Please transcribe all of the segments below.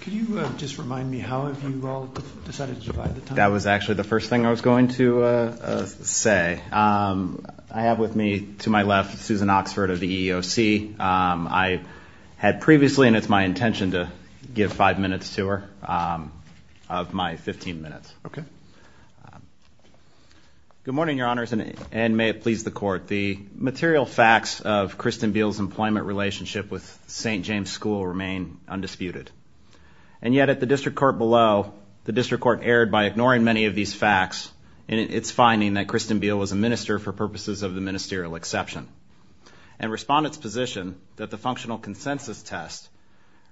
Could you just remind me how have you all decided to divide the time? That was actually the first thing I was going to say. I have with me to my left Susan Oxford of the EEOC. I had previously, and it's my intention to give five minutes to her, of my 15 minutes. Okay. Good morning, Your Honors, and may it please the Court. The material facts of Kristen Biel's employment relationship with St. James School remain undisputed. And yet at the district court below, the district court erred by ignoring many of these facts in its finding that Kristen Biel was a minister for purposes of the ministerial exception. And respondents position that the functional consensus test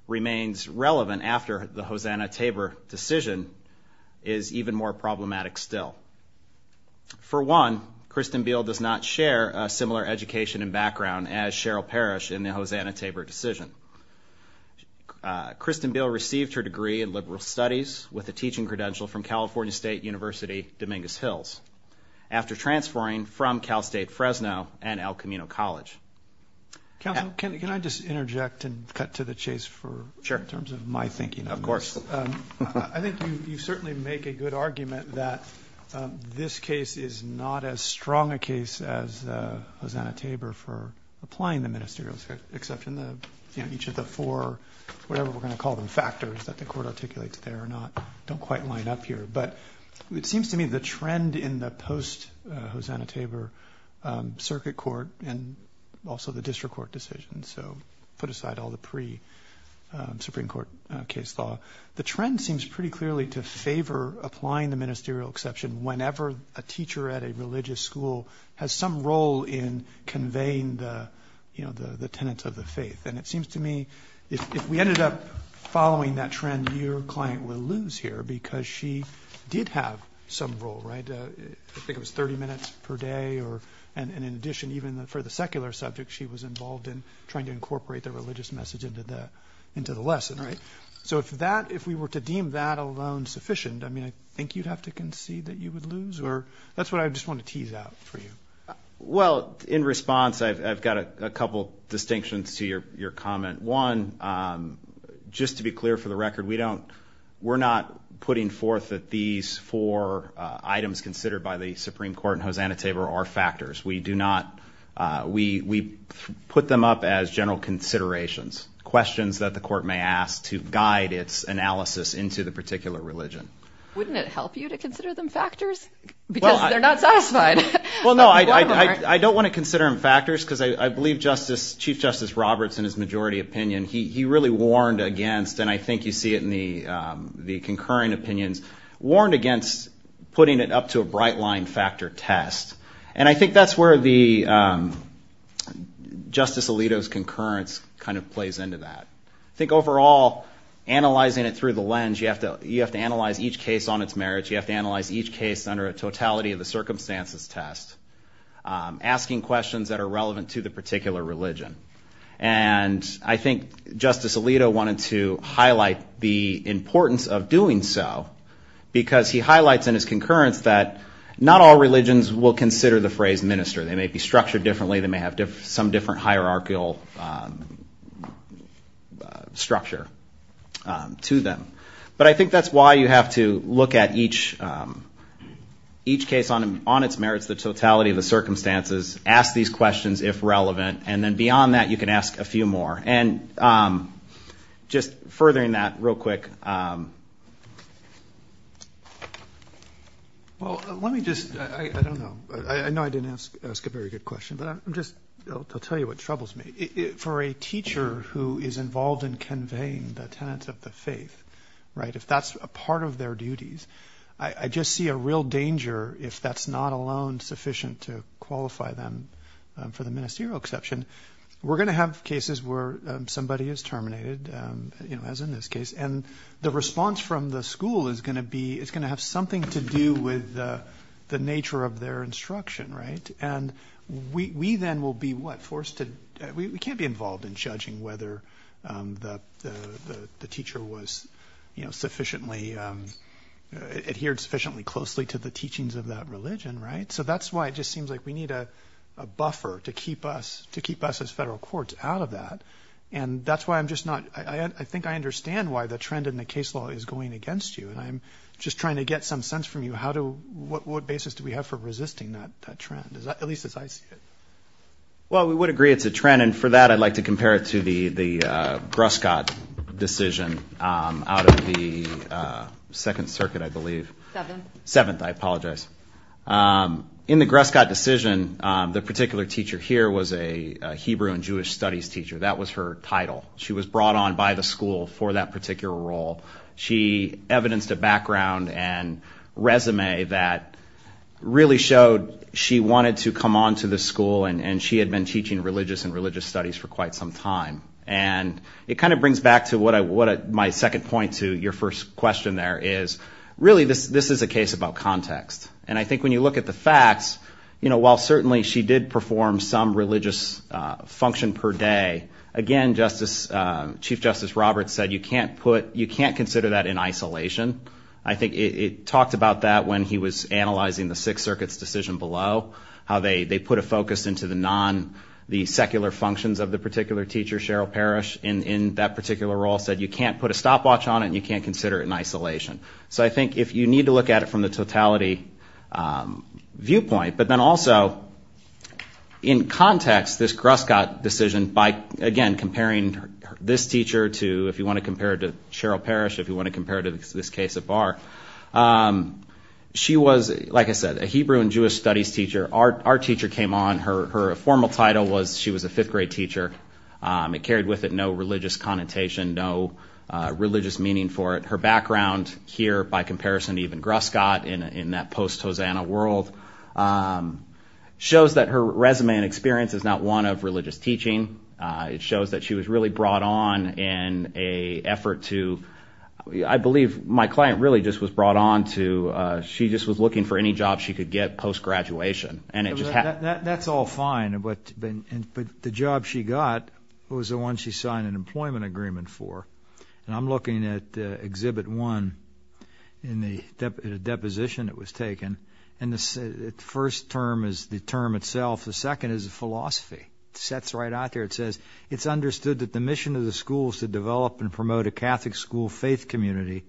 remains relevant after the Hosanna-Tabor decision is even more problematic still. For one, Kristen Biel does not share a similar education and background as Cheryl Parrish in the Hosanna-Tabor decision. Kristen Biel received her degree in liberal studies with a teaching credential from California State University, Dominguez Hills, after transferring from Cal State Fresno and El Camino College. Counsel, can I just interject and cut to the chase in terms of my thinking on this? Of course. I think you certainly make a good argument that this case is not as strong a case as Hosanna-Tabor for applying the ministerial exception. Each of the four, whatever we're going to call them, factors that the Court articulates there don't quite line up here. But it seems to me the trend in the post-Hosanna-Tabor circuit court and also the district court decision, so put aside all the pre-Supreme Court case law, the trend seems pretty clearly to favor applying the ministerial exception whenever a teacher at a religious school has some role in conveying the tenets of the faith. And it seems to me if we ended up following that trend, your client would lose here because she did have some role, right? I think it was 30 minutes per day, and in addition, even for the secular subject, she was involved in trying to incorporate the religious message into the lesson, right? So if that, if we were to deem that alone sufficient, I mean I think you'd have to concede that you would lose, or that's what I just want to tease out for you. Well, in response, I've got a couple distinctions to your comment. One, just to be clear for the record, we don't, we're not putting forth that these four items considered by the Supreme Court and Hosanna-Tabor are factors. We do not, we put them up as general considerations, questions that the court may ask to guide its analysis into the particular religion. Wouldn't it help you to consider them factors? Because they're not satisfied. Well, no, I don't want to consider them factors because I believe Chief Justice Roberts in his majority opinion, he really warned against, and I think you see it in the concurring opinions, warned against putting it up to a bright-line factor test. And I think that's where Justice Alito's concurrence kind of plays into that. I think overall, analyzing it through the lens, you have to analyze each case on its merits, you have to analyze each case under a totality of the circumstances test, asking questions that are relevant to the particular religion. And I think Justice Alito wanted to highlight the importance of doing so because he highlights in his concurrence that not all religions will consider the phrase minister. They may be structured differently, they may have some different hierarchical structure to them. But I think that's why you have to look at each case on its merits, the totality of the circumstances, ask these questions if relevant, and then beyond that you can ask a few more. And just furthering that real quick. Well, let me just, I don't know. I know I didn't ask a very good question, but I'll tell you what troubles me. For a teacher who is involved in conveying the tenets of the faith, right, if that's a part of their duties, I just see a real danger if that's not alone sufficient to qualify them for the ministerial exception. And we're going to have cases where somebody is terminated, as in this case, and the response from the school is going to be, it's going to have something to do with the nature of their instruction, right? And we then will be, what, forced to, we can't be involved in judging whether the teacher was sufficiently, adhered sufficiently closely to the teachings of that religion, right? So that's why it just seems like we need a buffer to keep us, to keep us as federal courts out of that. And that's why I'm just not, I think I understand why the trend in the case law is going against you, and I'm just trying to get some sense from you how to, what basis do we have for resisting that trend, at least as I see it. Well, we would agree it's a trend, and for that I'd like to compare it to the Gruscott decision out of the Second Circuit, I believe. Seventh. Seventh, I apologize. In the Gruscott decision, the particular teacher here was a Hebrew and Jewish studies teacher. That was her title. She was brought on by the school for that particular role. She evidenced a background and resume that really showed she wanted to come on to the school, and she had been teaching religious and religious studies for quite some time. And it kind of brings back to what my second point to your first question there is, really this is a case about context. And I think when you look at the facts, you know, while certainly she did perform some religious function per day, again, Chief Justice Roberts said you can't put, you can't consider that in isolation. I think it talked about that when he was analyzing the Sixth Circuit's decision below, how they put a focus into the non, the secular functions of the particular teacher, Cheryl Parrish, in that particular role, said you can't put a stopwatch on it and you can't consider it in isolation. So I think if you need to look at it from the totality viewpoint, but then also in context this Gruscott decision by, again, comparing this teacher to, if you want to compare it to Cheryl Parrish, if you want to compare it to this case of Barr, she was, like I said, a Hebrew and Jewish studies teacher. Our teacher came on. Her formal title was she was a fifth grade teacher. It carried with it no religious connotation, no religious meaning for it. Her background here by comparison to even Gruscott in that post-Hosanna world shows that her resume and experience is not one of religious teaching. It shows that she was really brought on in an effort to, I believe my client really just was brought on to, she just was looking for any job she could get post-graduation. That's all fine, but the job she got was the one she signed an employment agreement for. And I'm looking at Exhibit 1 in the deposition that was taken, and the first term is the term itself. The second is the philosophy. It sets right out there. It says, It's understood that the mission of the school is to develop and promote a Catholic school faith community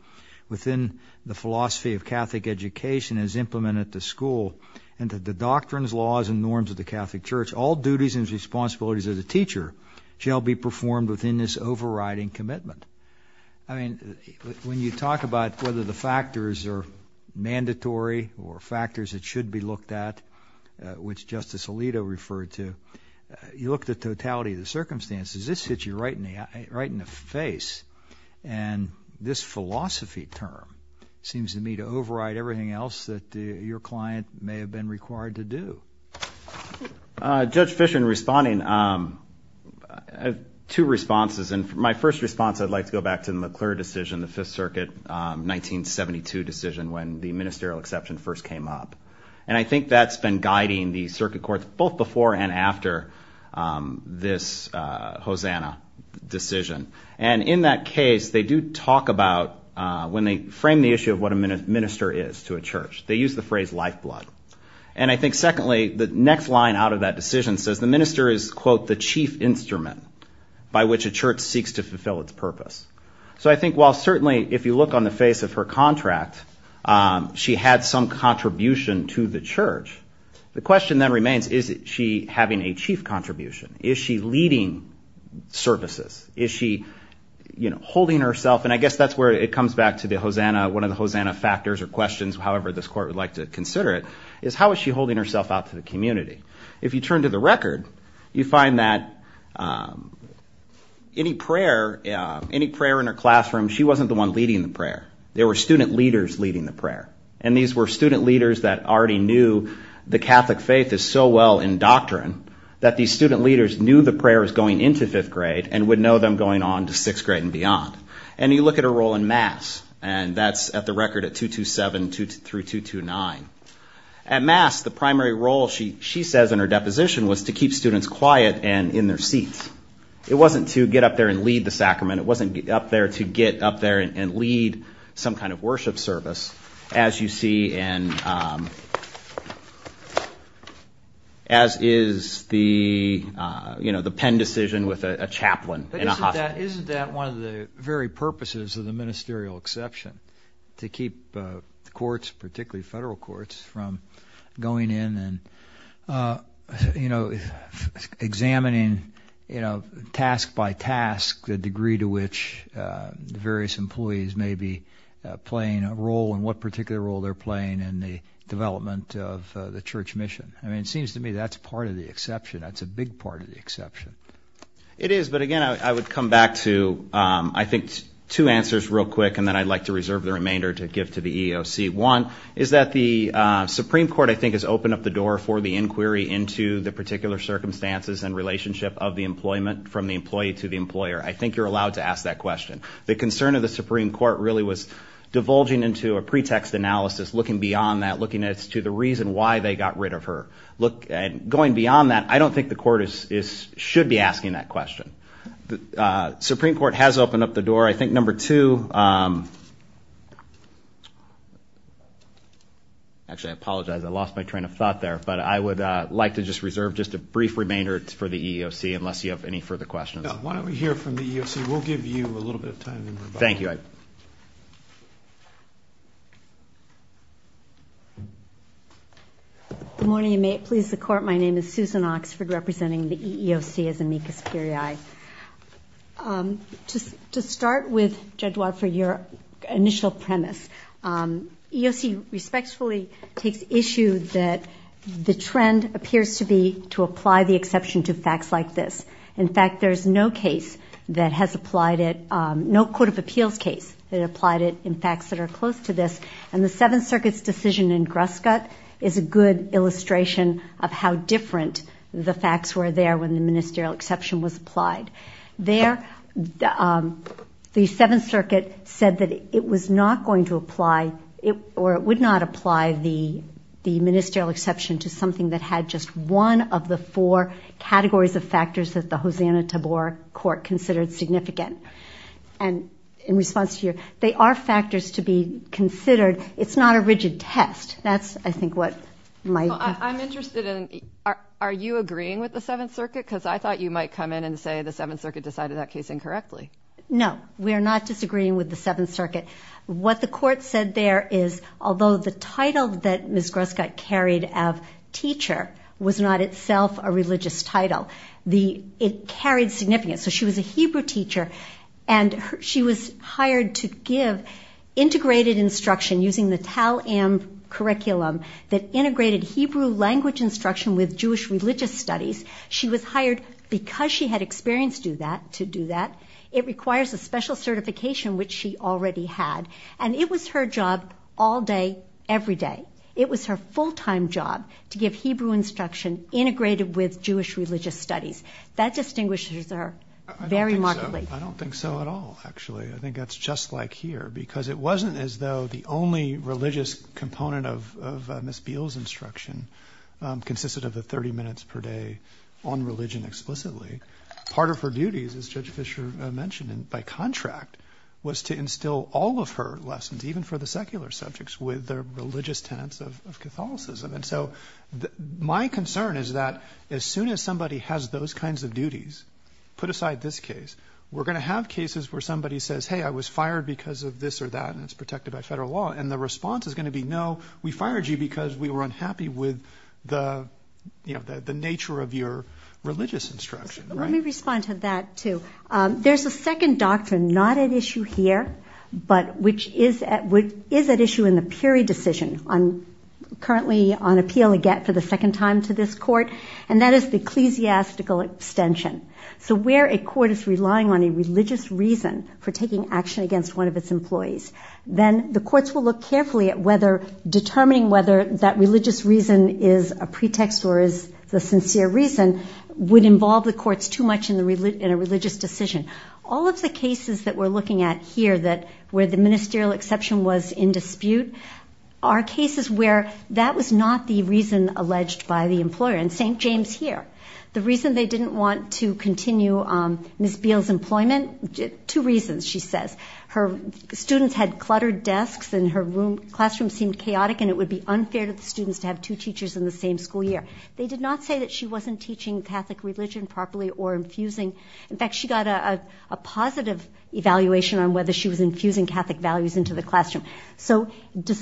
within the philosophy of Catholic education as implemented at the school and that the doctrines, laws, and norms of the Catholic Church, all duties and responsibilities as a teacher, shall be performed within this overriding commitment. I mean, when you talk about whether the factors are mandatory or factors that should be looked at, which Justice Alito referred to, you look at the totality of the circumstances, this hits you right in the face. And this philosophy term seems to me to override everything else that your client may have been required to do. Judge Fischer, in responding, two responses. And my first response, I'd like to go back to the McClure decision, the Fifth Circuit 1972 decision, when the ministerial exception first came up. And I think that's been guiding the circuit courts both before and after this Hosanna decision. And in that case, they do talk about, when they frame the issue of what a minister is to a church, they use the phrase lifeblood. And I think, secondly, the next line out of that decision says the minister is, quote, the chief instrument by which a church seeks to fulfill its purpose. So I think while certainly if you look on the face of her contract, she had some contribution to the church. The question then remains, is she having a chief contribution? Is she leading services? Is she holding herself? And I guess that's where it comes back to the Hosanna, one of the Hosanna factors or questions, however this court would like to consider it, is how is she holding herself out to the community? If you turn to the record, you find that any prayer in her classroom, she wasn't the one leading the prayer. There were student leaders leading the prayer. And these were student leaders that already knew the Catholic faith is so well in doctrine that these student leaders knew the prayer was going into fifth grade And you look at her role in Mass, and that's at the record at 227 through 229. At Mass, the primary role, she says in her deposition, was to keep students quiet and in their seats. It wasn't to get up there and lead the sacrament. It wasn't up there to get up there and lead some kind of worship service, as you see in, as is the pen decision with a chaplain in a hospital. Isn't that one of the very purposes of the ministerial exception? To keep courts, particularly federal courts, from going in and examining task by task the degree to which the various employees may be playing a role and what particular role they're playing in the development of the church mission. I mean, it seems to me that's part of the exception. That's a big part of the exception. It is, but again, I would come back to, I think, two answers real quick and then I'd like to reserve the remainder to give to the EEOC. One is that the Supreme Court, I think, has opened up the door for the inquiry into the particular circumstances and relationship of the employment from the employee to the employer. I think you're allowed to ask that question. The concern of the Supreme Court really was divulging into a pretext analysis, looking beyond that, looking as to the reason why they got rid of her. Going beyond that, I don't think the court should be asking that question. The Supreme Court has opened up the door. I think number two—actually, I apologize. I lost my train of thought there. But I would like to just reserve just a brief remainder for the EEOC unless you have any further questions. Why don't we hear from the EEOC? We'll give you a little bit of time. Thank you. All right. Good morning, and may it please the Court. My name is Susan Oxford, representing the EEOC as amicus curiae. To start with, Judge Wadford, your initial premise, EEOC respectfully takes issue that the trend appears to be to apply the exception to facts like this. In fact, there's no case that has applied it, no court of appeals case that applied it in facts that are close to this. And the Seventh Circuit's decision in Gruskut is a good illustration of how different the facts were there when the ministerial exception was applied. There, the Seventh Circuit said that it was not going to apply or it would not apply the ministerial exception to something that had just one of the four categories of factors that the Hosanna-Tabor Court considered significant. And in response to your question, they are factors to be considered. It's not a rigid test. That's, I think, what might be. Well, I'm interested in, are you agreeing with the Seventh Circuit? Because I thought you might come in and say the Seventh Circuit decided that case incorrectly. No, we are not disagreeing with the Seventh Circuit. What the Court said there is, although the title that Ms. Gruskut carried of teacher was not itself a religious title, it carried significance. So she was a Hebrew teacher, and she was hired to give integrated instruction using the TAL-AM curriculum that integrated Hebrew language instruction with Jewish religious studies. She was hired because she had experience to do that. It requires a special certification, which she already had. And it was her job all day, every day. It was her full-time job to give Hebrew instruction integrated with Jewish religious studies. That distinguishes her very markedly. I don't think so at all, actually. I think that's just like here, because it wasn't as though the only religious component of Ms. Beal's instruction consisted of the 30 minutes per day on religion explicitly. Part of her duties, as Judge Fischer mentioned, by contract, was to instill all of her lessons, even for the secular subjects, with the religious tenets of Catholicism. And so my concern is that as soon as somebody has those kinds of duties, put aside this case, we're going to have cases where somebody says, hey, I was fired because of this or that, and it's protected by federal law. And the response is going to be, no, we fired you because we were unhappy with the nature of your religious instruction. Let me respond to that, too. There's a second doctrine not at issue here, but which is at issue in the Peary decision, currently on appeal again for the second time to this court, and that is the ecclesiastical extension. So where a court is relying on a religious reason for taking action against one of its employees, then the courts will look carefully at determining whether that religious reason is a pretext or is the sincere reason would involve the courts too much in a religious decision. All of the cases that we're looking at here where the ministerial exception was in dispute are cases where that was not the reason alleged by the employer. And St. James here, the reason they didn't want to continue Ms. Beale's employment, two reasons, she says. Her students had cluttered desks and her classroom seemed chaotic, and it would be unfair to the students to have two teachers in the same school year. They did not say that she wasn't teaching Catholic religion properly or infusing. In fact, she got a positive evaluation on whether she was infusing Catholic values into the classroom. So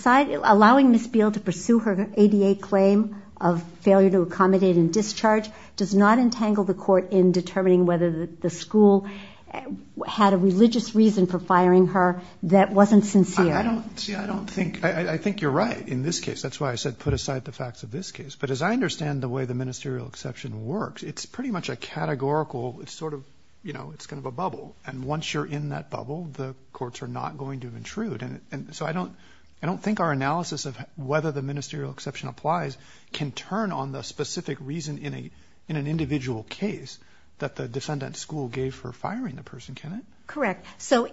allowing Ms. Beale to pursue her ADA claim of failure to accommodate and discharge does not entangle the court in determining whether the school had a religious reason for firing her that wasn't sincere. See, I don't think, I think you're right in this case. That's why I said put aside the facts of this case. But as I understand the way the ministerial exception works, it's pretty much a categorical, it's sort of, you know, it's kind of a bubble. And once you're in that bubble, the courts are not going to intrude. And so I don't think our analysis of whether the ministerial exception applies can turn on the specific reason in an individual case that the defendant's school gave for firing the person, can it? Correct. So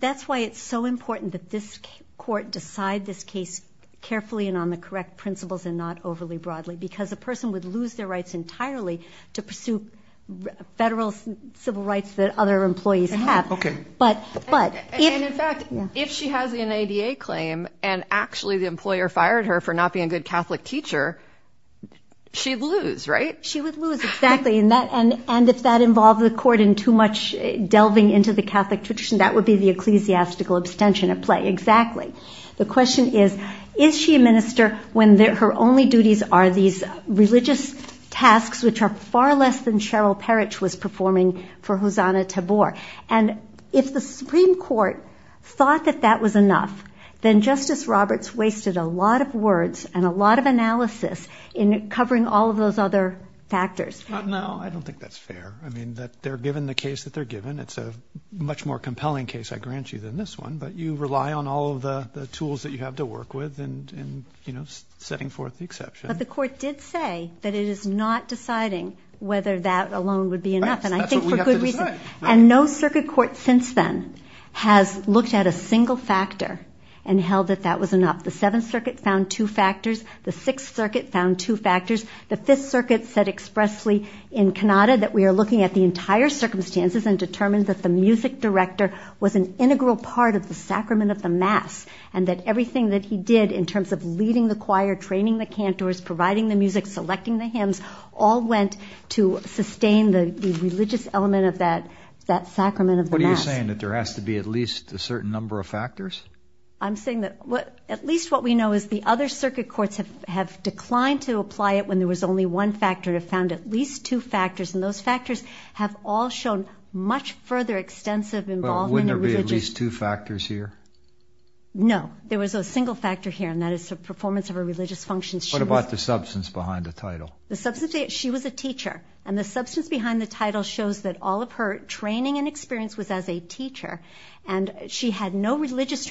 that's why it's so important that this court decide this case carefully and on the correct principles and not overly broadly, because a person would lose their rights entirely to pursue federal civil rights that other employees have. Okay. And in fact, if she has an ADA claim and actually the employer fired her for not being a good Catholic teacher, she'd lose, right? She would lose, exactly. And if that involved the court in too much delving into the Catholic tradition, that would be the ecclesiastical abstention at play. Exactly. The question is, is she a minister when her only duties are these religious tasks, which are far less than Cheryl Parrish was performing for Hosanna Tabor? And if the Supreme Court thought that that was enough, then Justice Roberts wasted a lot of words and a lot of analysis in covering all of those other factors. No, I don't think that's fair. I mean, they're given the case that they're given. It's a much more compelling case, I grant you, than this one, but you rely on all of the tools that you have to work with in setting forth the exception. But the court did say that it is not deciding whether that alone would be enough. That's what we have to decide. And I think for good reason. And no circuit court since then has looked at a single factor and held that that was enough. The Seventh Circuit found two factors. The Sixth Circuit found two factors. The Fifth Circuit said expressly in Cannata that we are looking at the entire circumstances and determined that the music director was an integral part of the sacrament of the Mass and that everything that he did in terms of leading the choir, training the cantors, providing the music, selecting the hymns, all went to sustain the religious element of that sacrament of the Mass. What are you saying, that there has to be at least a certain number of factors? I'm saying that at least what we know is the other circuit courts have declined to apply it when there was only one factor and have found at least two factors, and those factors have all shown much further extensive involvement in religious. But wouldn't there be at least two factors here? No. There was a single factor here, and that is the performance of her religious functions. What about the substance behind the title? She was a teacher. And the substance behind the title shows that all of her training and experience was as a teacher, and she had no religious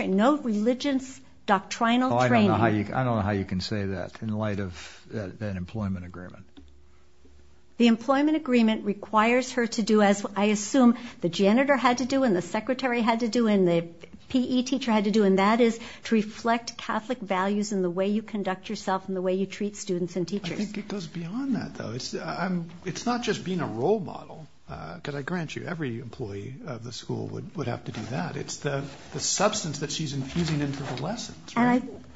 doctrinal training. I don't know how you can say that in light of an employment agreement. The employment agreement requires her to do, as I assume the janitor had to do and the secretary had to do and the PE teacher had to do, and that is to reflect Catholic values in the way you conduct yourself and the way you treat students and teachers. I think it goes beyond that, though. It's not just being a role model, because I grant you, every employee of the school would have to do that. It's the substance that she's infusing into the lessons.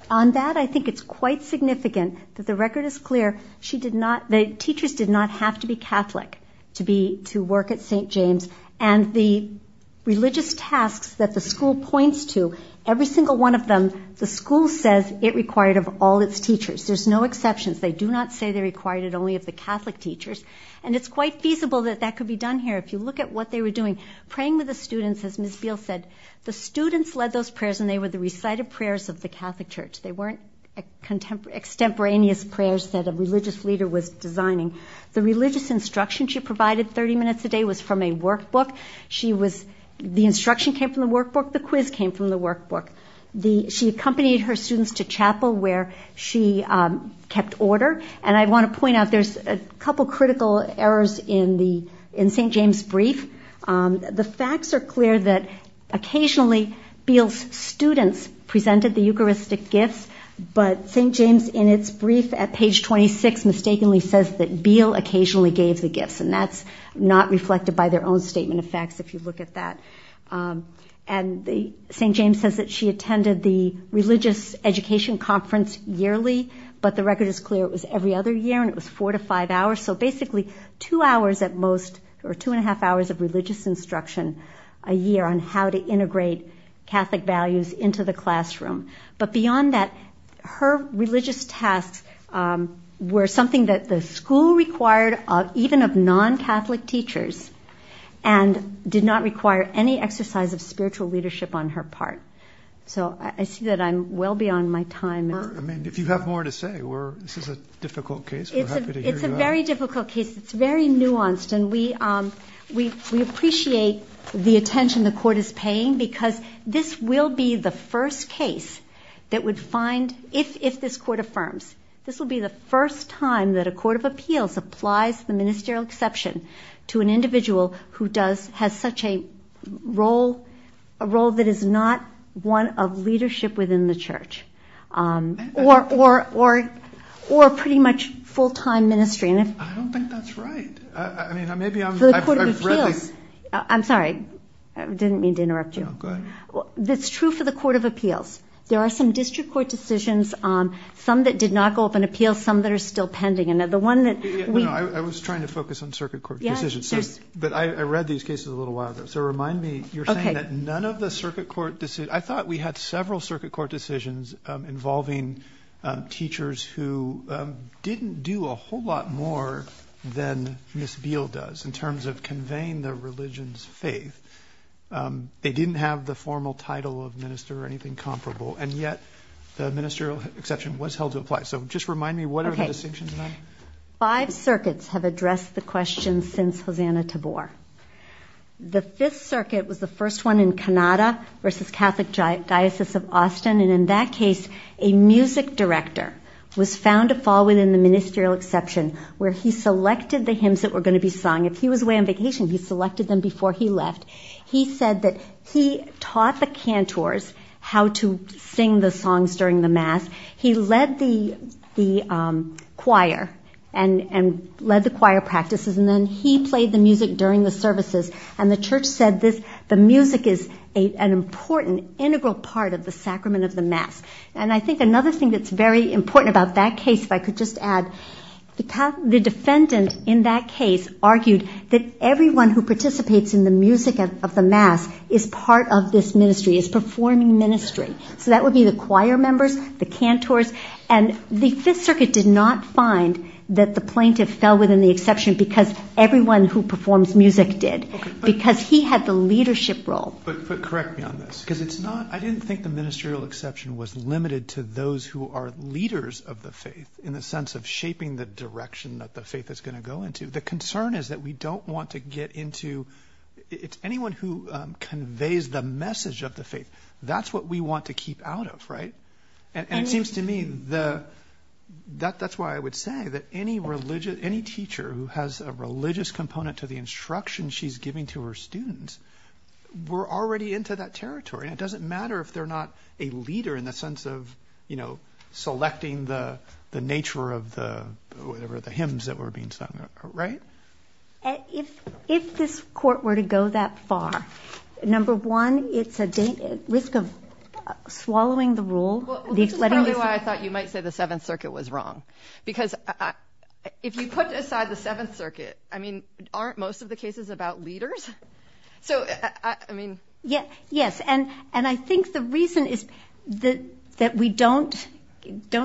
On that, I think it's quite significant that the record is clear. The teachers did not have to be Catholic to work at St. James, and the religious tasks that the school points to, every single one of them, the school says it required of all its teachers. There's no exceptions. They do not say they required it only of the Catholic teachers, and it's quite feasible that that could be done here. If you look at what they were doing, praying with the students, as Ms. Beal said, the students led those prayers and they were the recited prayers of the Catholic church. They weren't extemporaneous prayers that a religious leader was designing. The religious instruction she provided 30 minutes a day was from a workbook. The instruction came from the workbook. The quiz came from the workbook. She accompanied her students to chapel where she kept order, and I want to point out there's a couple critical errors in St. James' brief. The facts are clear that occasionally Beal's students presented the Eucharistic gifts, but St. James, in its brief at page 26, mistakenly says that Beal occasionally gave the gifts, and that's not reflected by their own statement of facts if you look at that. St. James says that she attended the religious education conference yearly, but the record is clear it was every other year and it was four to five hours, so basically two and a half hours of religious instruction a year on how to integrate Catholic values into the classroom. But beyond that, her religious tasks were something that the school required, even of non-Catholic teachers, and did not require any exercise of spiritual leadership on her part. So I see that I'm well beyond my time. I mean, if you have more to say, this is a difficult case. We're happy to hear you out. It's a very difficult case. It's very nuanced, and we appreciate the attention the Court is paying because this will be the first case that would find, if this Court affirms, this will be the first time that a court of appeals applies the ministerial exception to an individual who has such a role that is not one of leadership within the Church. Or pretty much full-time ministry. I don't think that's right. For the court of appeals. I'm sorry. I didn't mean to interrupt you. No, go ahead. It's true for the court of appeals. There are some district court decisions, some that did not go up in appeals, some that are still pending. I was trying to focus on circuit court decisions, but I read these cases a little while ago, so remind me, you're saying that none of the circuit court decisions, I thought we had several circuit court decisions involving teachers who didn't do a whole lot more than Ms. Beal does in terms of conveying their religion's faith. They didn't have the formal title of minister or anything comparable, and yet the ministerial exception was held to apply. So just remind me, what are the distinctions? Five circuits have addressed the question since Hosanna Tabor. The fifth circuit was the first one in Kanada versus Catholic Diocese of Austin, and in that case, a music director was found to fall within the ministerial exception where he selected the hymns that were going to be sung. If he was away on vacation, he selected them before he left. He said that he taught the cantors how to sing the songs during the mass. He led the choir and led the choir practices, and then he played the music during the services, and the church said the music is an important integral part of the sacrament of the mass. And I think another thing that's very important about that case, if I could just add, the defendant in that case argued that everyone who participates in the music of the mass is part of this ministry, is performing ministry. So that would be the choir members, the cantors, and the fifth circuit did not find that the plaintiff fell within the exception because everyone who performs music did, because he had the leadership role. But correct me on this, because it's not – I didn't think the ministerial exception was limited to those who are leaders of the faith in the sense of shaping the direction that the faith is going to go into. The concern is that we don't want to get into – it's anyone who conveys the message of the faith. That's what we want to keep out of, right? And it seems to me that that's why I would say that any teacher who has a religious component to the instruction she's giving to her students, we're already into that territory. And it doesn't matter if they're not a leader in the sense of, you know, selecting the nature of the hymns that were being sung, right? If this court were to go that far, number one, it's a risk of swallowing the rule. Well, this is partly why I thought you might say the Seventh Circuit was wrong. Because if you put aside the Seventh Circuit, I mean, aren't most of the cases about leaders? So, I mean – Yes, and I think the reason that we don't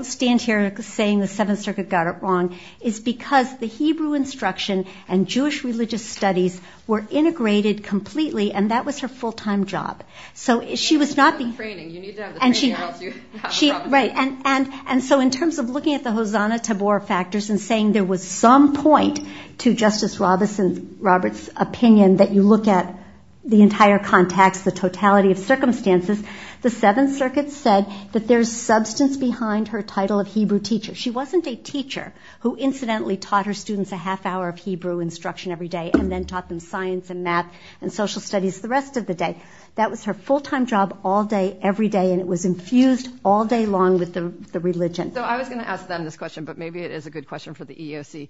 stand here saying the Seventh Circuit got it wrong is because the Hebrew instruction and Jewish religious studies were integrated completely, and that was her full-time job. So she was not the – You need to have the training. You need to have the training or else you have a problem. Right, and so in terms of looking at the Hosanna-Tabor factors and saying there was some point to Justice Roberts' opinion that you look at the entire context, the totality of circumstances, the Seventh Circuit said that there's substance behind her title of Hebrew teacher. She wasn't a teacher who incidentally taught her students a half-hour of Hebrew instruction every day and then taught them science and math and social studies the rest of the day. That was her full-time job all day, every day, and it was infused all day long with the religion. So I was going to ask them this question, but maybe it is a good question for the EEOC.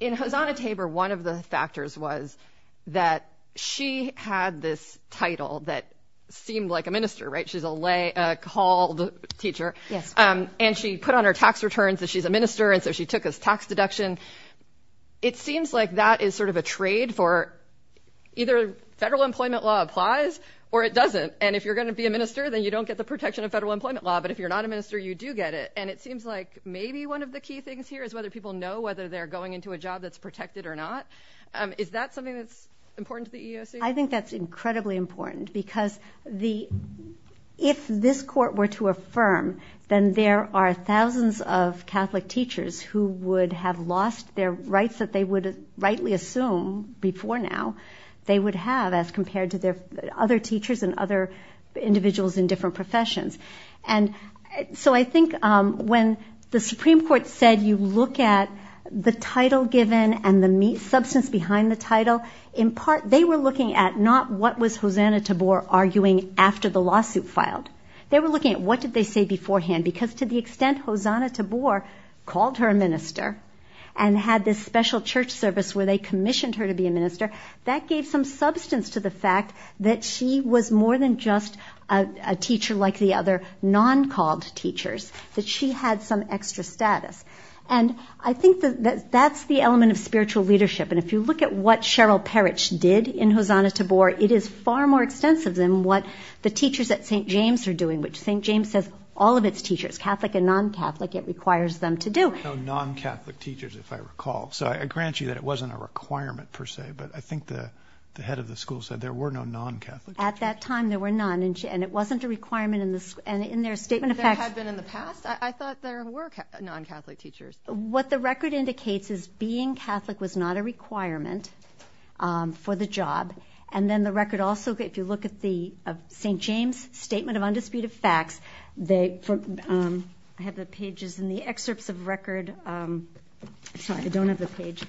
In Hosanna-Tabor, one of the factors was that she had this title that seemed like a minister, right? She's a called teacher. Yes. And she put on her tax returns that she's a minister, and so she took a tax deduction. It seems like that is sort of a trade for either federal employment law applies or it doesn't, and if you're going to be a minister, then you don't get the protection of federal employment law, but if you're not a minister, you do get it, and it seems like maybe one of the key things here is whether people know whether they're going into a job that's protected or not. Is that something that's important to the EEOC? I think that's incredibly important because if this court were to affirm, then there are thousands of Catholic teachers who would have lost their rights that they would rightly assume before now they would have as compared to their other teachers and other individuals in different professions. And so I think when the Supreme Court said you look at the title given and the substance behind the title, in part they were looking at not what was Hosanna-Tabor arguing after the lawsuit filed. They were looking at what did they say beforehand because to the extent Hosanna-Tabor called her a minister and had this special church service where they commissioned her to be a minister, that gave some substance to the fact that she was more than just a teacher like the other non-called teachers, that she had some extra status. And I think that that's the element of spiritual leadership, and if you look at what Cheryl Parrish did in Hosanna-Tabor, it is far more extensive than what the teachers at St. James are doing, which St. James has all of its teachers, Catholic and non-Catholic, it requires them to do. There were no non-Catholic teachers if I recall. So I grant you that it wasn't a requirement per se, but I think the head of the school said there were no non-Catholic teachers. At that time there were none, and it wasn't a requirement in their statement of facts. There had been in the past. I thought there were non-Catholic teachers. What the record indicates is being Catholic was not a requirement for the job, and then the record also, if you look at the St. James Statement of Undisputed Facts, I have the pages in the excerpts of record, sorry, I don't have the page,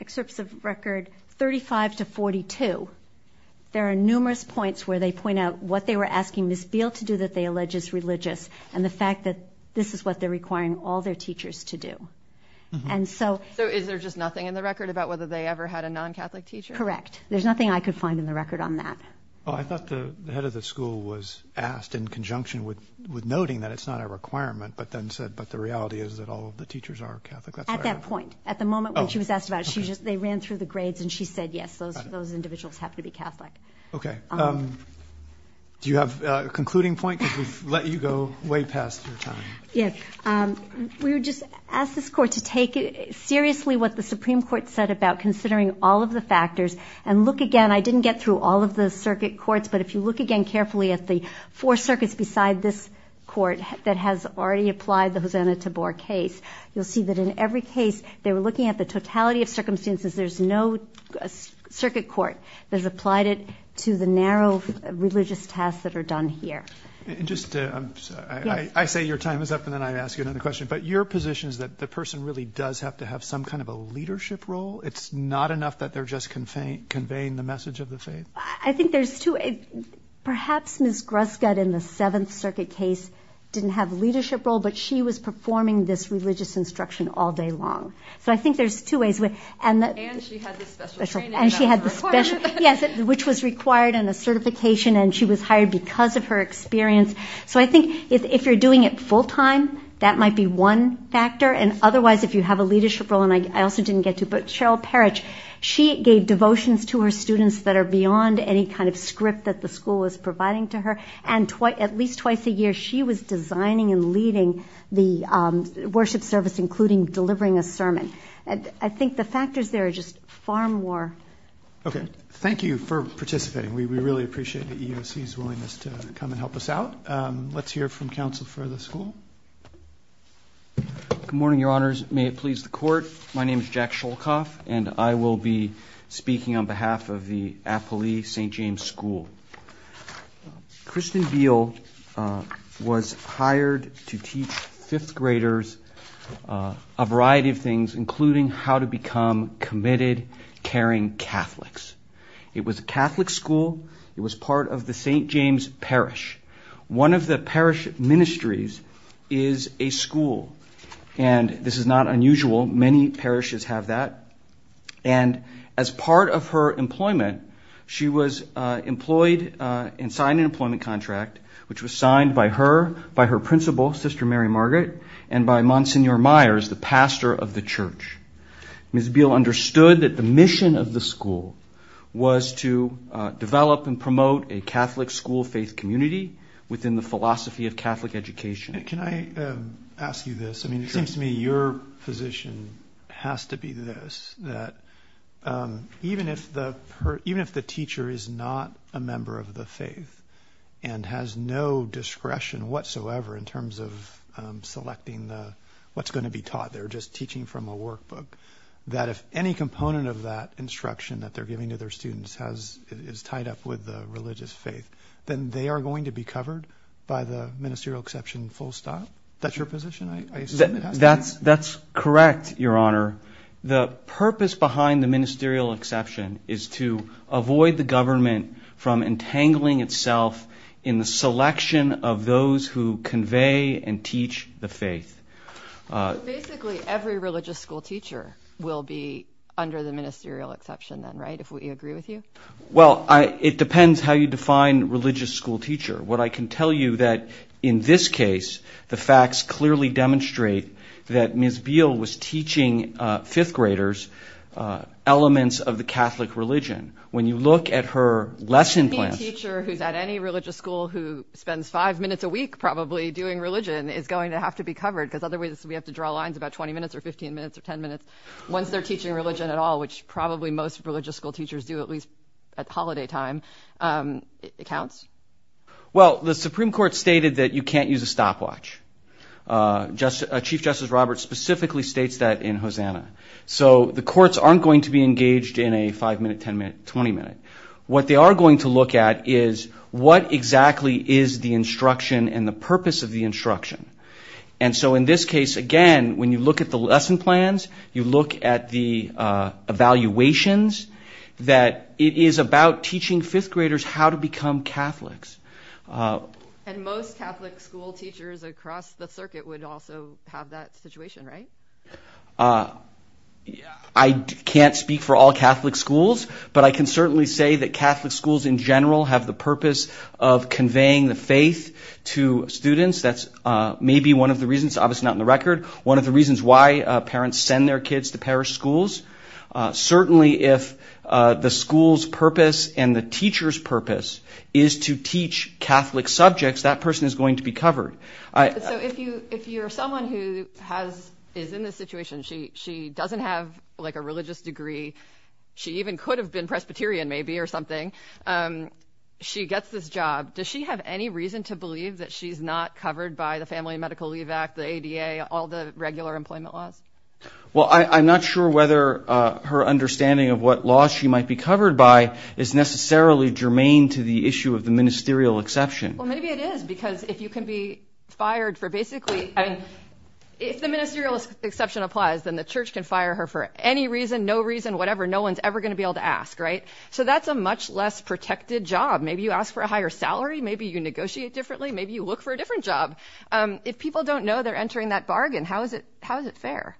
excerpts of record 35 to 42, there are numerous points where they point out what they were asking Ms. Beale to do that they allege is religious, and the fact that this is what they're requiring all their teachers to do. So is there just nothing in the record about whether they ever had a non-Catholic teacher? Correct. There's nothing I could find in the record on that. I thought the head of the school was asked in conjunction with noting that it's not a requirement, but then said, but the reality is that all of the teachers are Catholic. At that point, at the moment when she was asked about it, they ran through the grades and she said, yes, those individuals have to be Catholic. Okay. Do you have a concluding point? Because we've let you go way past your time. We would just ask this court to take seriously what the Supreme Court said about considering all of the factors, and look again, I didn't get through all of the circuit courts, but if you look again carefully at the four circuits beside this court that has already applied the Hosanna-Tabor case, you'll see that in every case they were looking at the totality of circumstances, there's no circuit court that has applied it to the narrow religious tasks that are done here. I say your time is up, and then I ask you another question, but your position is that the person really does have to have some kind of a leadership role? It's not enough that they're just conveying the message of the faith? I think there's two ways. Perhaps Ms. Gruskud in the Seventh Circuit case didn't have a leadership role, but she was performing this religious instruction all day long. So I think there's two ways. And she had the special training that was required. Yes, which was required and a certification, and she was hired because of her experience. So I think if you're doing it full time, that might be one factor, and otherwise if you have a leadership role, and I also didn't get to, but Cheryl Parrish, she gave devotions to her students that are beyond any kind of script that the school was providing to her, and at least twice a year she was designing and leading the worship service, including delivering a sermon. I think the factors there are just far more. Okay. Thank you for participating. We really appreciate the EEOC's willingness to come and help us out. Let's hear from counsel for the school. Good morning, Your Honors. May it please the Court. My name is Jack Sholkoff, and I will be speaking on behalf of the Appali St. James School. Kristen Beal was hired to teach fifth graders a variety of things, including how to become committed, caring Catholics. It was a Catholic school. It was part of the St. James Parish. One of the parish ministries is a school, and this is not unusual. Many parishes have that. And as part of her employment, she was employed and signed an employment contract, which was signed by her principal, Sister Mary Margaret, and by Monsignor Myers, the pastor of the church. Ms. Beal understood that the mission of the school was to develop and promote a Catholic school faith community within the philosophy of Catholic education. Can I ask you this? I mean, it seems to me your position has to be this, that even if the teacher is not a member of the faith and has no discretion whatsoever in terms of selecting what's going to be taught, they're just teaching from a workbook, that if any component of that instruction that they're giving to their students is tied up with the religious faith, then they are going to be covered by the ministerial exception full stop? That's your position? That's correct, Your Honor. The purpose behind the ministerial exception is to avoid the government from entangling itself in the selection of those who convey and teach the faith. Basically, every religious school teacher will be under the ministerial exception then, right, if we agree with you? Well, it depends how you define religious school teacher. What I can tell you that in this case, the facts clearly demonstrate that Ms. Beal was teaching fifth graders elements of the Catholic religion. When you look at her lesson plans ñ Any teacher who's at any religious school who spends five minutes a week probably doing religion is going to have to be covered because otherwise we have to draw lines about 20 minutes or 15 minutes or 10 minutes. Once they're teaching religion at all, which probably most religious school teachers do at least at holiday time, it counts? Well, the Supreme Court stated that you can't use a stopwatch. Chief Justice Roberts specifically states that in Hosanna. So the courts aren't going to be engaged in a five-minute, 10-minute, 20-minute. What they are going to look at is what exactly is the instruction and the purpose of the instruction. And so in this case, again, when you look at the lesson plans, you look at the evaluations, that it is about teaching fifth graders how to become Catholics. And most Catholic school teachers across the circuit would also have that situation, right? I can't speak for all Catholic schools, but I can certainly say that Catholic schools in general have the purpose of conveying the faith to students. That's maybe one of the reasons, obviously not in the record, one of the reasons why parents send their kids to parish schools. Certainly if the school's purpose and the teacher's purpose is to teach Catholic subjects, that person is going to be covered. So if you're someone who is in this situation, she doesn't have like a religious degree, she even could have been Presbyterian maybe or something, she gets this job. Does she have any reason to believe that she's not covered by the Family and Medical Leave Act, the ADA, all the regular employment laws? Well, I'm not sure whether her understanding of what laws she might be covered by is necessarily germane to the issue of the ministerial exception. Well, maybe it is, because if you can be fired for basically, I mean, if the ministerial exception applies, then the church can fire her for any reason, no reason, whatever, no one's ever going to be able to ask, right? So that's a much less protected job. Maybe you ask for a higher salary, maybe you negotiate differently, maybe you look for a different job. If people don't know they're entering that bargain, how is it fair?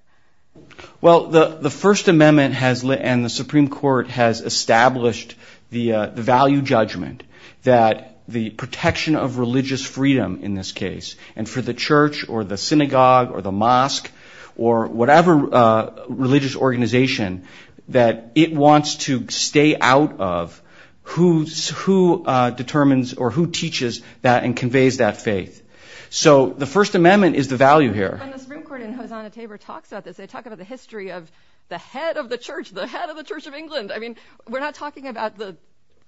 Well, the First Amendment and the Supreme Court has established the value judgment that the protection of religious freedom in this case, and for the church or the synagogue or the mosque or whatever religious organization that it wants to stay out of, who determines or who teaches that and conveys that faith. So the First Amendment is the value here. And the Supreme Court in Hosanna Tabor talks about this. They talk about the history of the head of the church, the head of the Church of England. I mean, we're not talking about the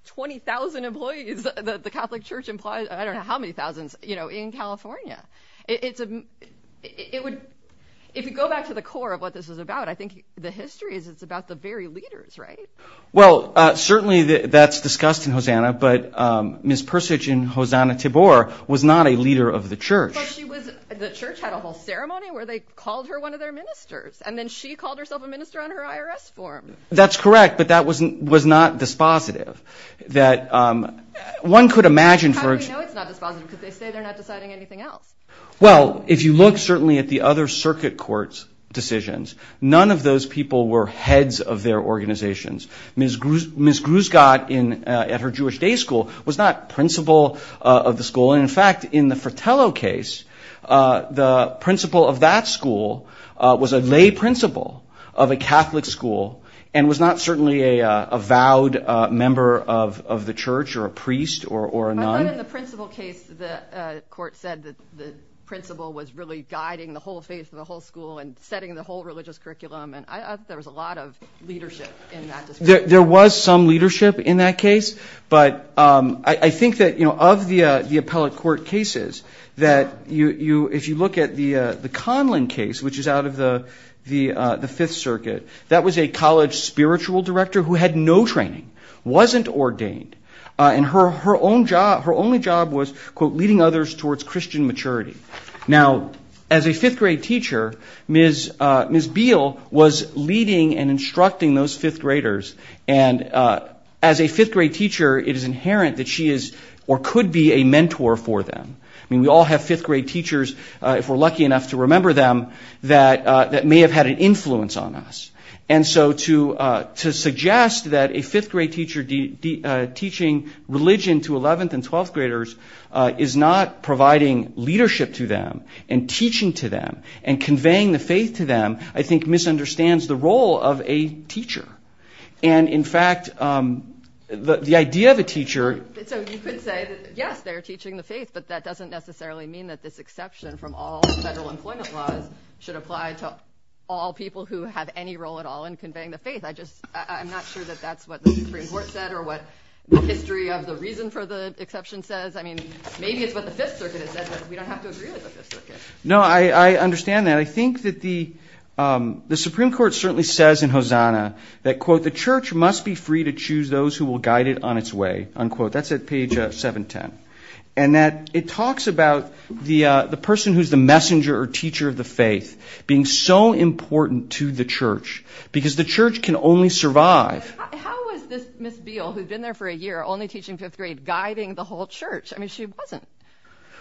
20,000 employees that the Catholic Church employs. I don't know how many thousands, you know, in California. If you go back to the core of what this is about, I think the history is it's about the very leaders, right? Well, certainly that's discussed in Hosanna, but Ms. Persich in Hosanna Tabor was not a leader of the church. But the church had a whole ceremony where they called her one of their ministers, and then she called herself a minister on her IRS form. That's correct, but that was not dispositive. How do we know it's not dispositive because they say they're not deciding anything else? Well, if you look certainly at the other circuit court's decisions, none of those people were heads of their organizations. Ms. Grusgott at her Jewish day school was not principal of the school. And, in fact, in the Fratello case, the principal of that school was a lay principal of a Catholic school and was not certainly a vowed member of the church or a priest or a nun. But in the principal case, the court said that the principal was really guiding the whole faith of the whole school and setting the whole religious curriculum, and I thought there was a lot of leadership in that discussion. There was some leadership in that case, but I think that, you know, of the appellate court cases, that if you look at the Conlon case, which is out of the Fifth Circuit, that was a college spiritual director who had no training, wasn't ordained. And her only job was, quote, leading others towards Christian maturity. Now, as a fifth-grade teacher, Ms. Beal was leading and instructing those fifth-graders. And as a fifth-grade teacher, it is inherent that she is or could be a mentor for them. I mean, we all have fifth-grade teachers, if we're lucky enough to remember them, that may have had an influence on us. And so to suggest that a fifth-grade teacher teaching religion to 11th- and 12th-graders is not providing leadership to them and teaching to them and conveying the faith to them, I think misunderstands the role of a teacher. And, in fact, the idea of a teacher- So you could say that, yes, they're teaching the faith, but that doesn't necessarily mean that this exception from all federal employment laws should apply to all people who have any role at all in conveying the faith. I'm not sure that that's what the Supreme Court said or what the history of the reason for the exception says. I mean, maybe it's what the Fifth Circuit has said, but we don't have to agree with the Fifth Circuit. No, I understand that. I think that the Supreme Court certainly says in Hosanna that, quote, the church must be free to choose those who will guide it on its way, unquote. That's at page 710. And that it talks about the person who's the messenger or teacher of the faith being so important to the church because the church can only survive. How is this Miss Beal, who's been there for a year, only teaching fifth grade, guiding the whole church? I mean, she wasn't.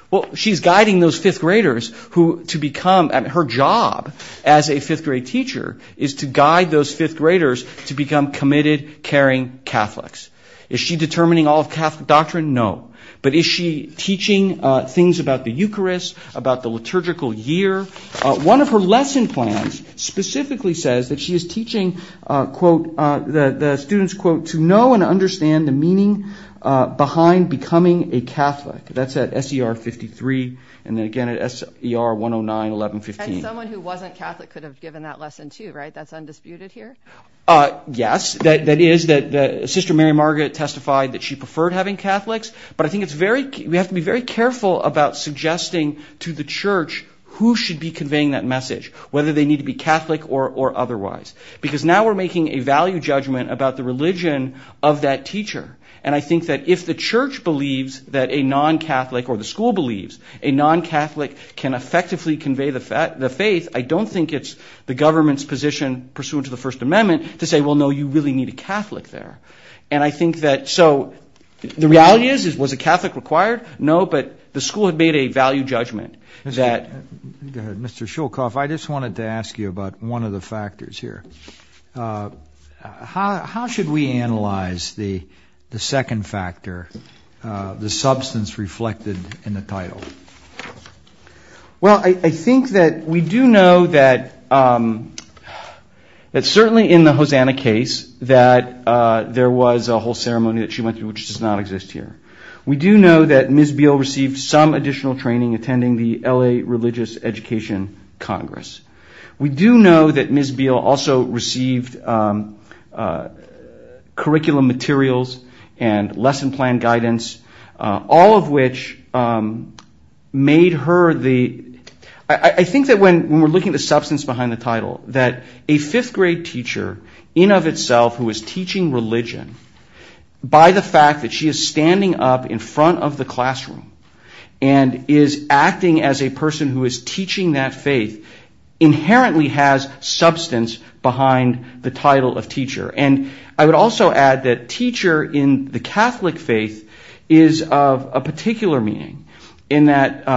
Well, she's guiding those fifth-graders who to become- her job as a fifth-grade teacher is to guide those fifth-graders to become committed, caring Catholics. Is she determining all of Catholic doctrine? No. But is she teaching things about the Eucharist, about the liturgical year? One of her lesson plans specifically says that she is teaching, quote, the students, quote, to know and understand the meaning behind becoming a Catholic. That's at SER 53 and, again, at SER 109, 1115. And someone who wasn't Catholic could have given that lesson, too, right? That's undisputed here? Yes. That is that Sister Mary Margaret testified that she preferred having Catholics. But I think we have to be very careful about suggesting to the church who should be conveying that message, whether they need to be Catholic or otherwise, because now we're making a value judgment about the religion of that teacher. And I think that if the church believes that a non-Catholic or the school believes a non-Catholic can effectively convey the faith, I don't think it's the government's position pursuant to the First Amendment to say, well, no, you really need a Catholic there. And I think that so the reality is, was a Catholic required? No, but the school had made a value judgment. Go ahead. Mr. Shulkoff, I just wanted to ask you about one of the factors here. How should we analyze the second factor, the substance reflected in the title? Well, I think that we do know that certainly in the Hosanna case that there was a whole ceremony that she went to, which does not exist here. We do know that Ms. Beale received some additional training attending the L.A. Religious Education Congress. We do know that Ms. Beale also received curriculum materials and lesson plan guidance, all of which made her the ‑‑ I think that when we're looking at the substance behind the title, that a fifth grade teacher in of itself who is teaching religion, by the fact that she is standing up in front of the classroom and is acting as a person who is teaching that faith, inherently has substance behind the title of teacher. And I would also add that teacher in the Catholic faith is of a particular meaning, in that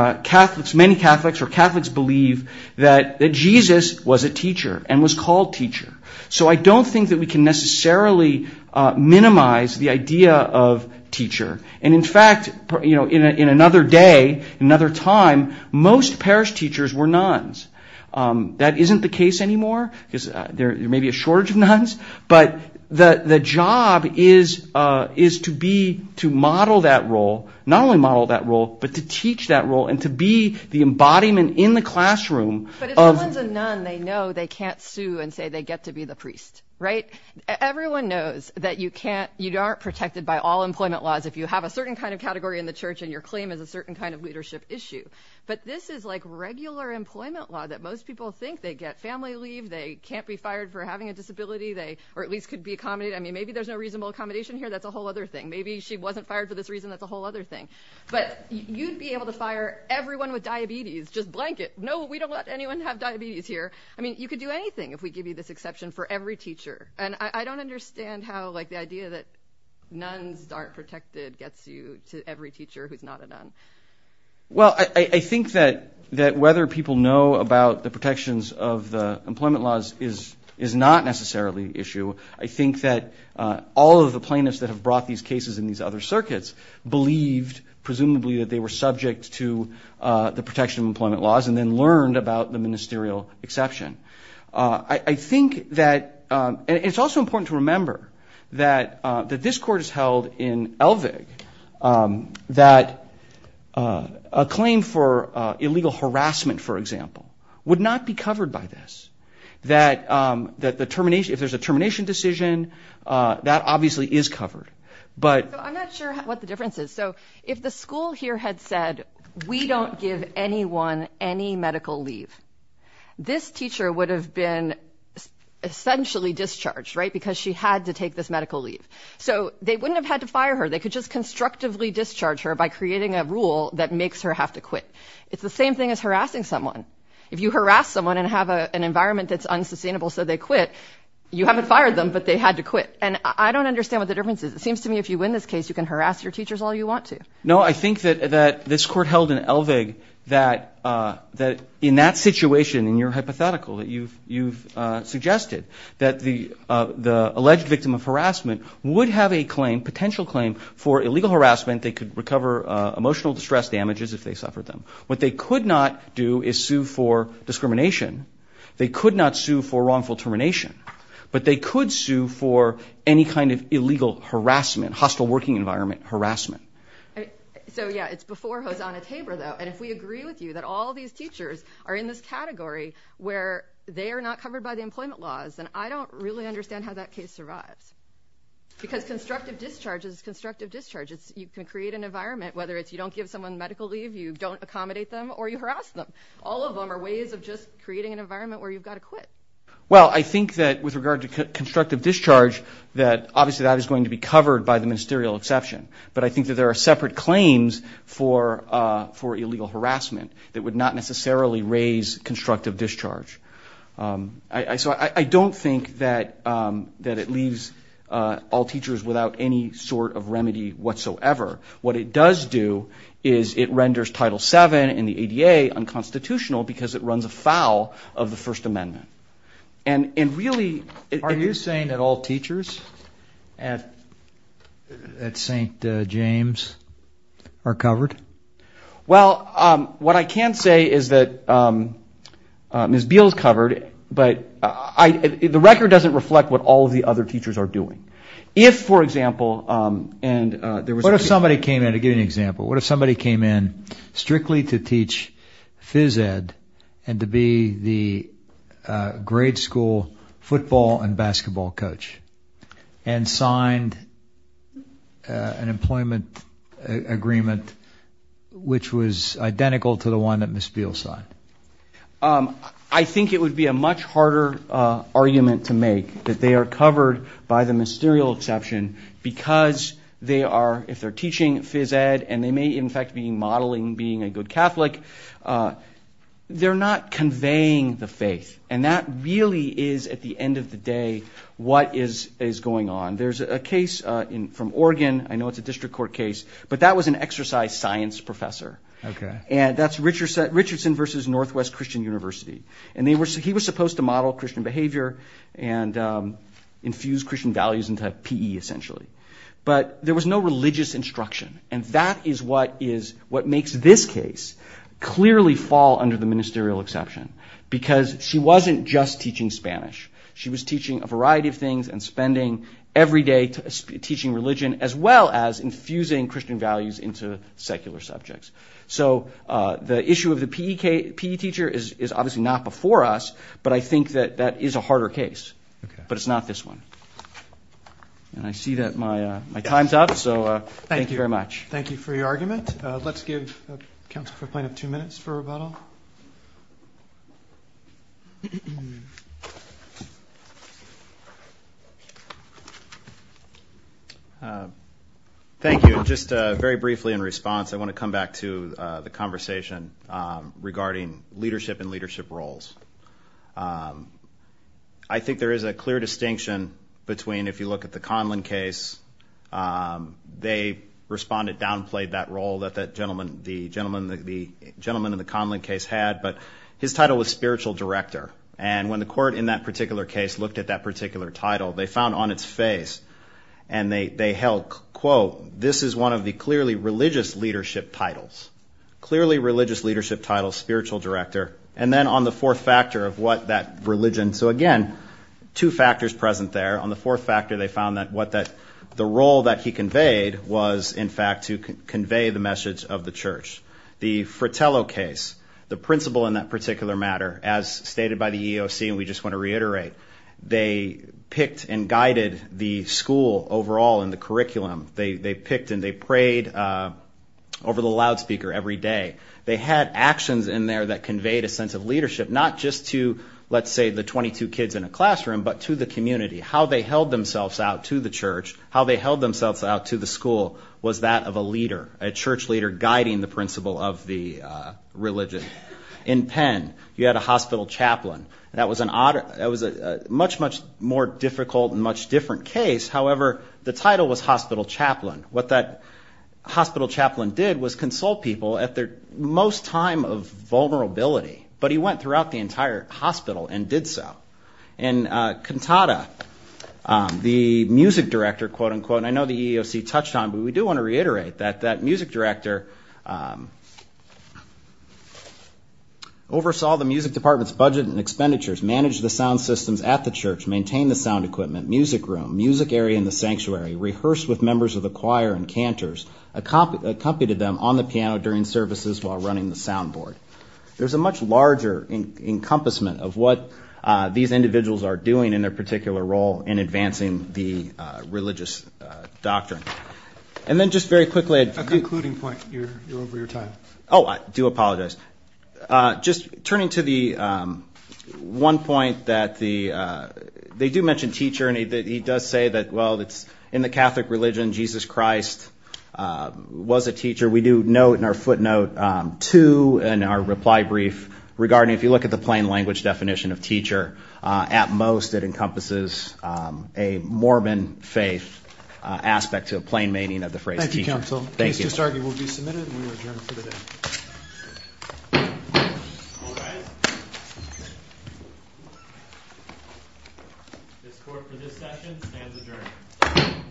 many Catholics or Catholics believe that Jesus was a teacher and was called teacher. So I don't think that we can necessarily minimize the idea of teacher. And in fact, in another day, another time, most parish teachers were nuns. That isn't the case anymore because there may be a shortage of nuns, but the job is to be, to model that role, not only model that role, but to teach that role and to be the embodiment in the classroom. But if someone's a nun, they know they can't sue and say they get to be the priest, right? Everyone knows that you can't ‑‑ you aren't protected by all employment laws if you have a certain kind of category in the church and your claim is a certain kind of leadership issue. But this is like regular employment law that most people think. They get family leave. They can't be fired for having a disability. Or at least could be accommodated. I mean, maybe there's no reasonable accommodation here. That's a whole other thing. Maybe she wasn't fired for this reason. That's a whole other thing. But you'd be able to fire everyone with diabetes, just blanket. No, we don't let anyone have diabetes here. I mean, you could do anything if we give you this exception for every teacher. And I don't understand how, like, the idea that nuns aren't protected gets you to every teacher who's not a nun. Well, I think that whether people know about the protections of the employment laws is not necessarily the issue. I think that all of the plaintiffs that have brought these cases in these other circuits believed, presumably, that they were subject to the protection of employment laws and then learned about the ministerial exception. I think that ‑‑ and it's also important to remember that this court is held in Elvig, that a claim for illegal harassment, for example, would not be covered by this. That if there's a termination decision, that obviously is covered. So I'm not sure what the difference is. So if the school here had said, we don't give anyone any medical leave, this teacher would have been essentially discharged, right, because she had to take this medical leave. So they wouldn't have had to fire her. They could just constructively discharge her by creating a rule that makes her have to quit. It's the same thing as harassing someone. If you harass someone and have an environment that's unsustainable so they quit, you haven't fired them, but they had to quit. And I don't understand what the difference is. It seems to me if you win this case, you can harass your teachers all you want to. No, I think that this court held in Elvig that in that situation, in your hypothetical that you've suggested, that the alleged victim of harassment would have a claim, potential claim for illegal harassment. They could recover emotional distress damages if they suffered them. What they could not do is sue for discrimination. They could not sue for wrongful termination. But they could sue for any kind of illegal harassment, hostile working environment harassment. So, yeah, it's before hosanna taber, though. And if we agree with you that all these teachers are in this category where they are not covered by the employment laws, then I don't really understand how that case survives. Because constructive discharge is constructive discharge. You can create an environment, whether it's you don't give someone medical leave, you don't accommodate them, or you harass them. All of them are ways of just creating an environment where you've got to quit. Well, I think that with regard to constructive discharge, that obviously that is going to be covered by the ministerial exception. But I think that there are separate claims for illegal harassment that would not necessarily raise constructive discharge. So I don't think that it leaves all teachers without any sort of remedy whatsoever. What it does do is it renders Title VII and the ADA unconstitutional because it runs afoul of the First Amendment. And really – Are you saying that all teachers at St. James are covered? Well, what I can say is that Ms. Beal is covered, but the record doesn't reflect what all of the other teachers are doing. If, for example – What if somebody came in, to give you an example, what if somebody came in strictly to teach phys ed and to be the grade school football and basketball coach and signed an employment agreement, which was identical to the one that Ms. Beal signed? I think it would be a much harder argument to make that they are covered by the ministerial exception because they are – if they're teaching phys ed and they may, in fact, be modeling being a good Catholic, they're not conveying the faith. And that really is, at the end of the day, what is going on. There's a case from Oregon. I know it's a district court case, but that was an exercise science professor. And that's Richardson v. Northwest Christian University. And he was supposed to model Christian behavior and infuse Christian values into PE, essentially. But there was no religious instruction, and that is what makes this case clearly fall under the ministerial exception because she wasn't just teaching Spanish. She was teaching a variety of things and spending every day teaching religion as well as infusing Christian values into secular subjects. So the issue of the PE teacher is obviously not before us, but I think that that is a harder case. But it's not this one. And I see that my time's up, so thank you very much. Thank you for your argument. With that, let's give counsel for plaintiff two minutes for rebuttal. Thank you. Just very briefly in response, I want to come back to the conversation regarding leadership and leadership roles. I think there is a clear distinction between, if you look at the Conlon case, they responded downplayed that role that the gentleman in the Conlon case had, but his title was spiritual director. And when the court in that particular case looked at that particular title, they found on its face and they held, quote, this is one of the clearly religious leadership titles, clearly religious leadership titles, spiritual director. And then on the fourth factor of what that religion, so again, two factors present there. On the fourth factor, they found that the role that he conveyed was, in fact, to convey the message of the church. The Fratello case, the principal in that particular matter, as stated by the EEOC, and we just want to reiterate, they picked and guided the school overall in the curriculum. They picked and they prayed over the loudspeaker every day. They had actions in there that conveyed a sense of leadership, not just to, let's say, the 22 kids in a classroom, but to the community, how they held themselves out to the church, how they held themselves out to the school was that of a leader, a church leader guiding the principle of the religion. In Penn, you had a hospital chaplain. That was a much, much more difficult and much different case. However, the title was hospital chaplain. What that hospital chaplain did was consult people at their most time of vulnerability, but he went throughout the entire hospital and did so. In Cantata, the music director, quote, unquote, and I know the EEOC touched on it, but we do want to reiterate that that music director oversaw the music department's budget and expenditures, managed the sound systems at the church, maintained the sound equipment, music room, music area in the sanctuary, rehearsed with members of the choir and cantors, accompanied them on the piano during services while running the sound board. There's a much larger encompassment of what these individuals are doing in their particular role in advancing the religious doctrine. And then just very quickly at the concluding point, you're over your time. Oh, I do apologize. Just turning to the one point that they do mention teacher, and he does say that, well, in the Catholic religion, Jesus Christ was a teacher. We do note in our footnote two in our reply brief regarding, if you look at the plain language definition of teacher, at most it encompasses a Mormon faith aspect to a plain meaning of the phrase teacher. Thank you, counsel. The case to start will be submitted and we will adjourn for the day. All rise. This court for this session stands adjourned.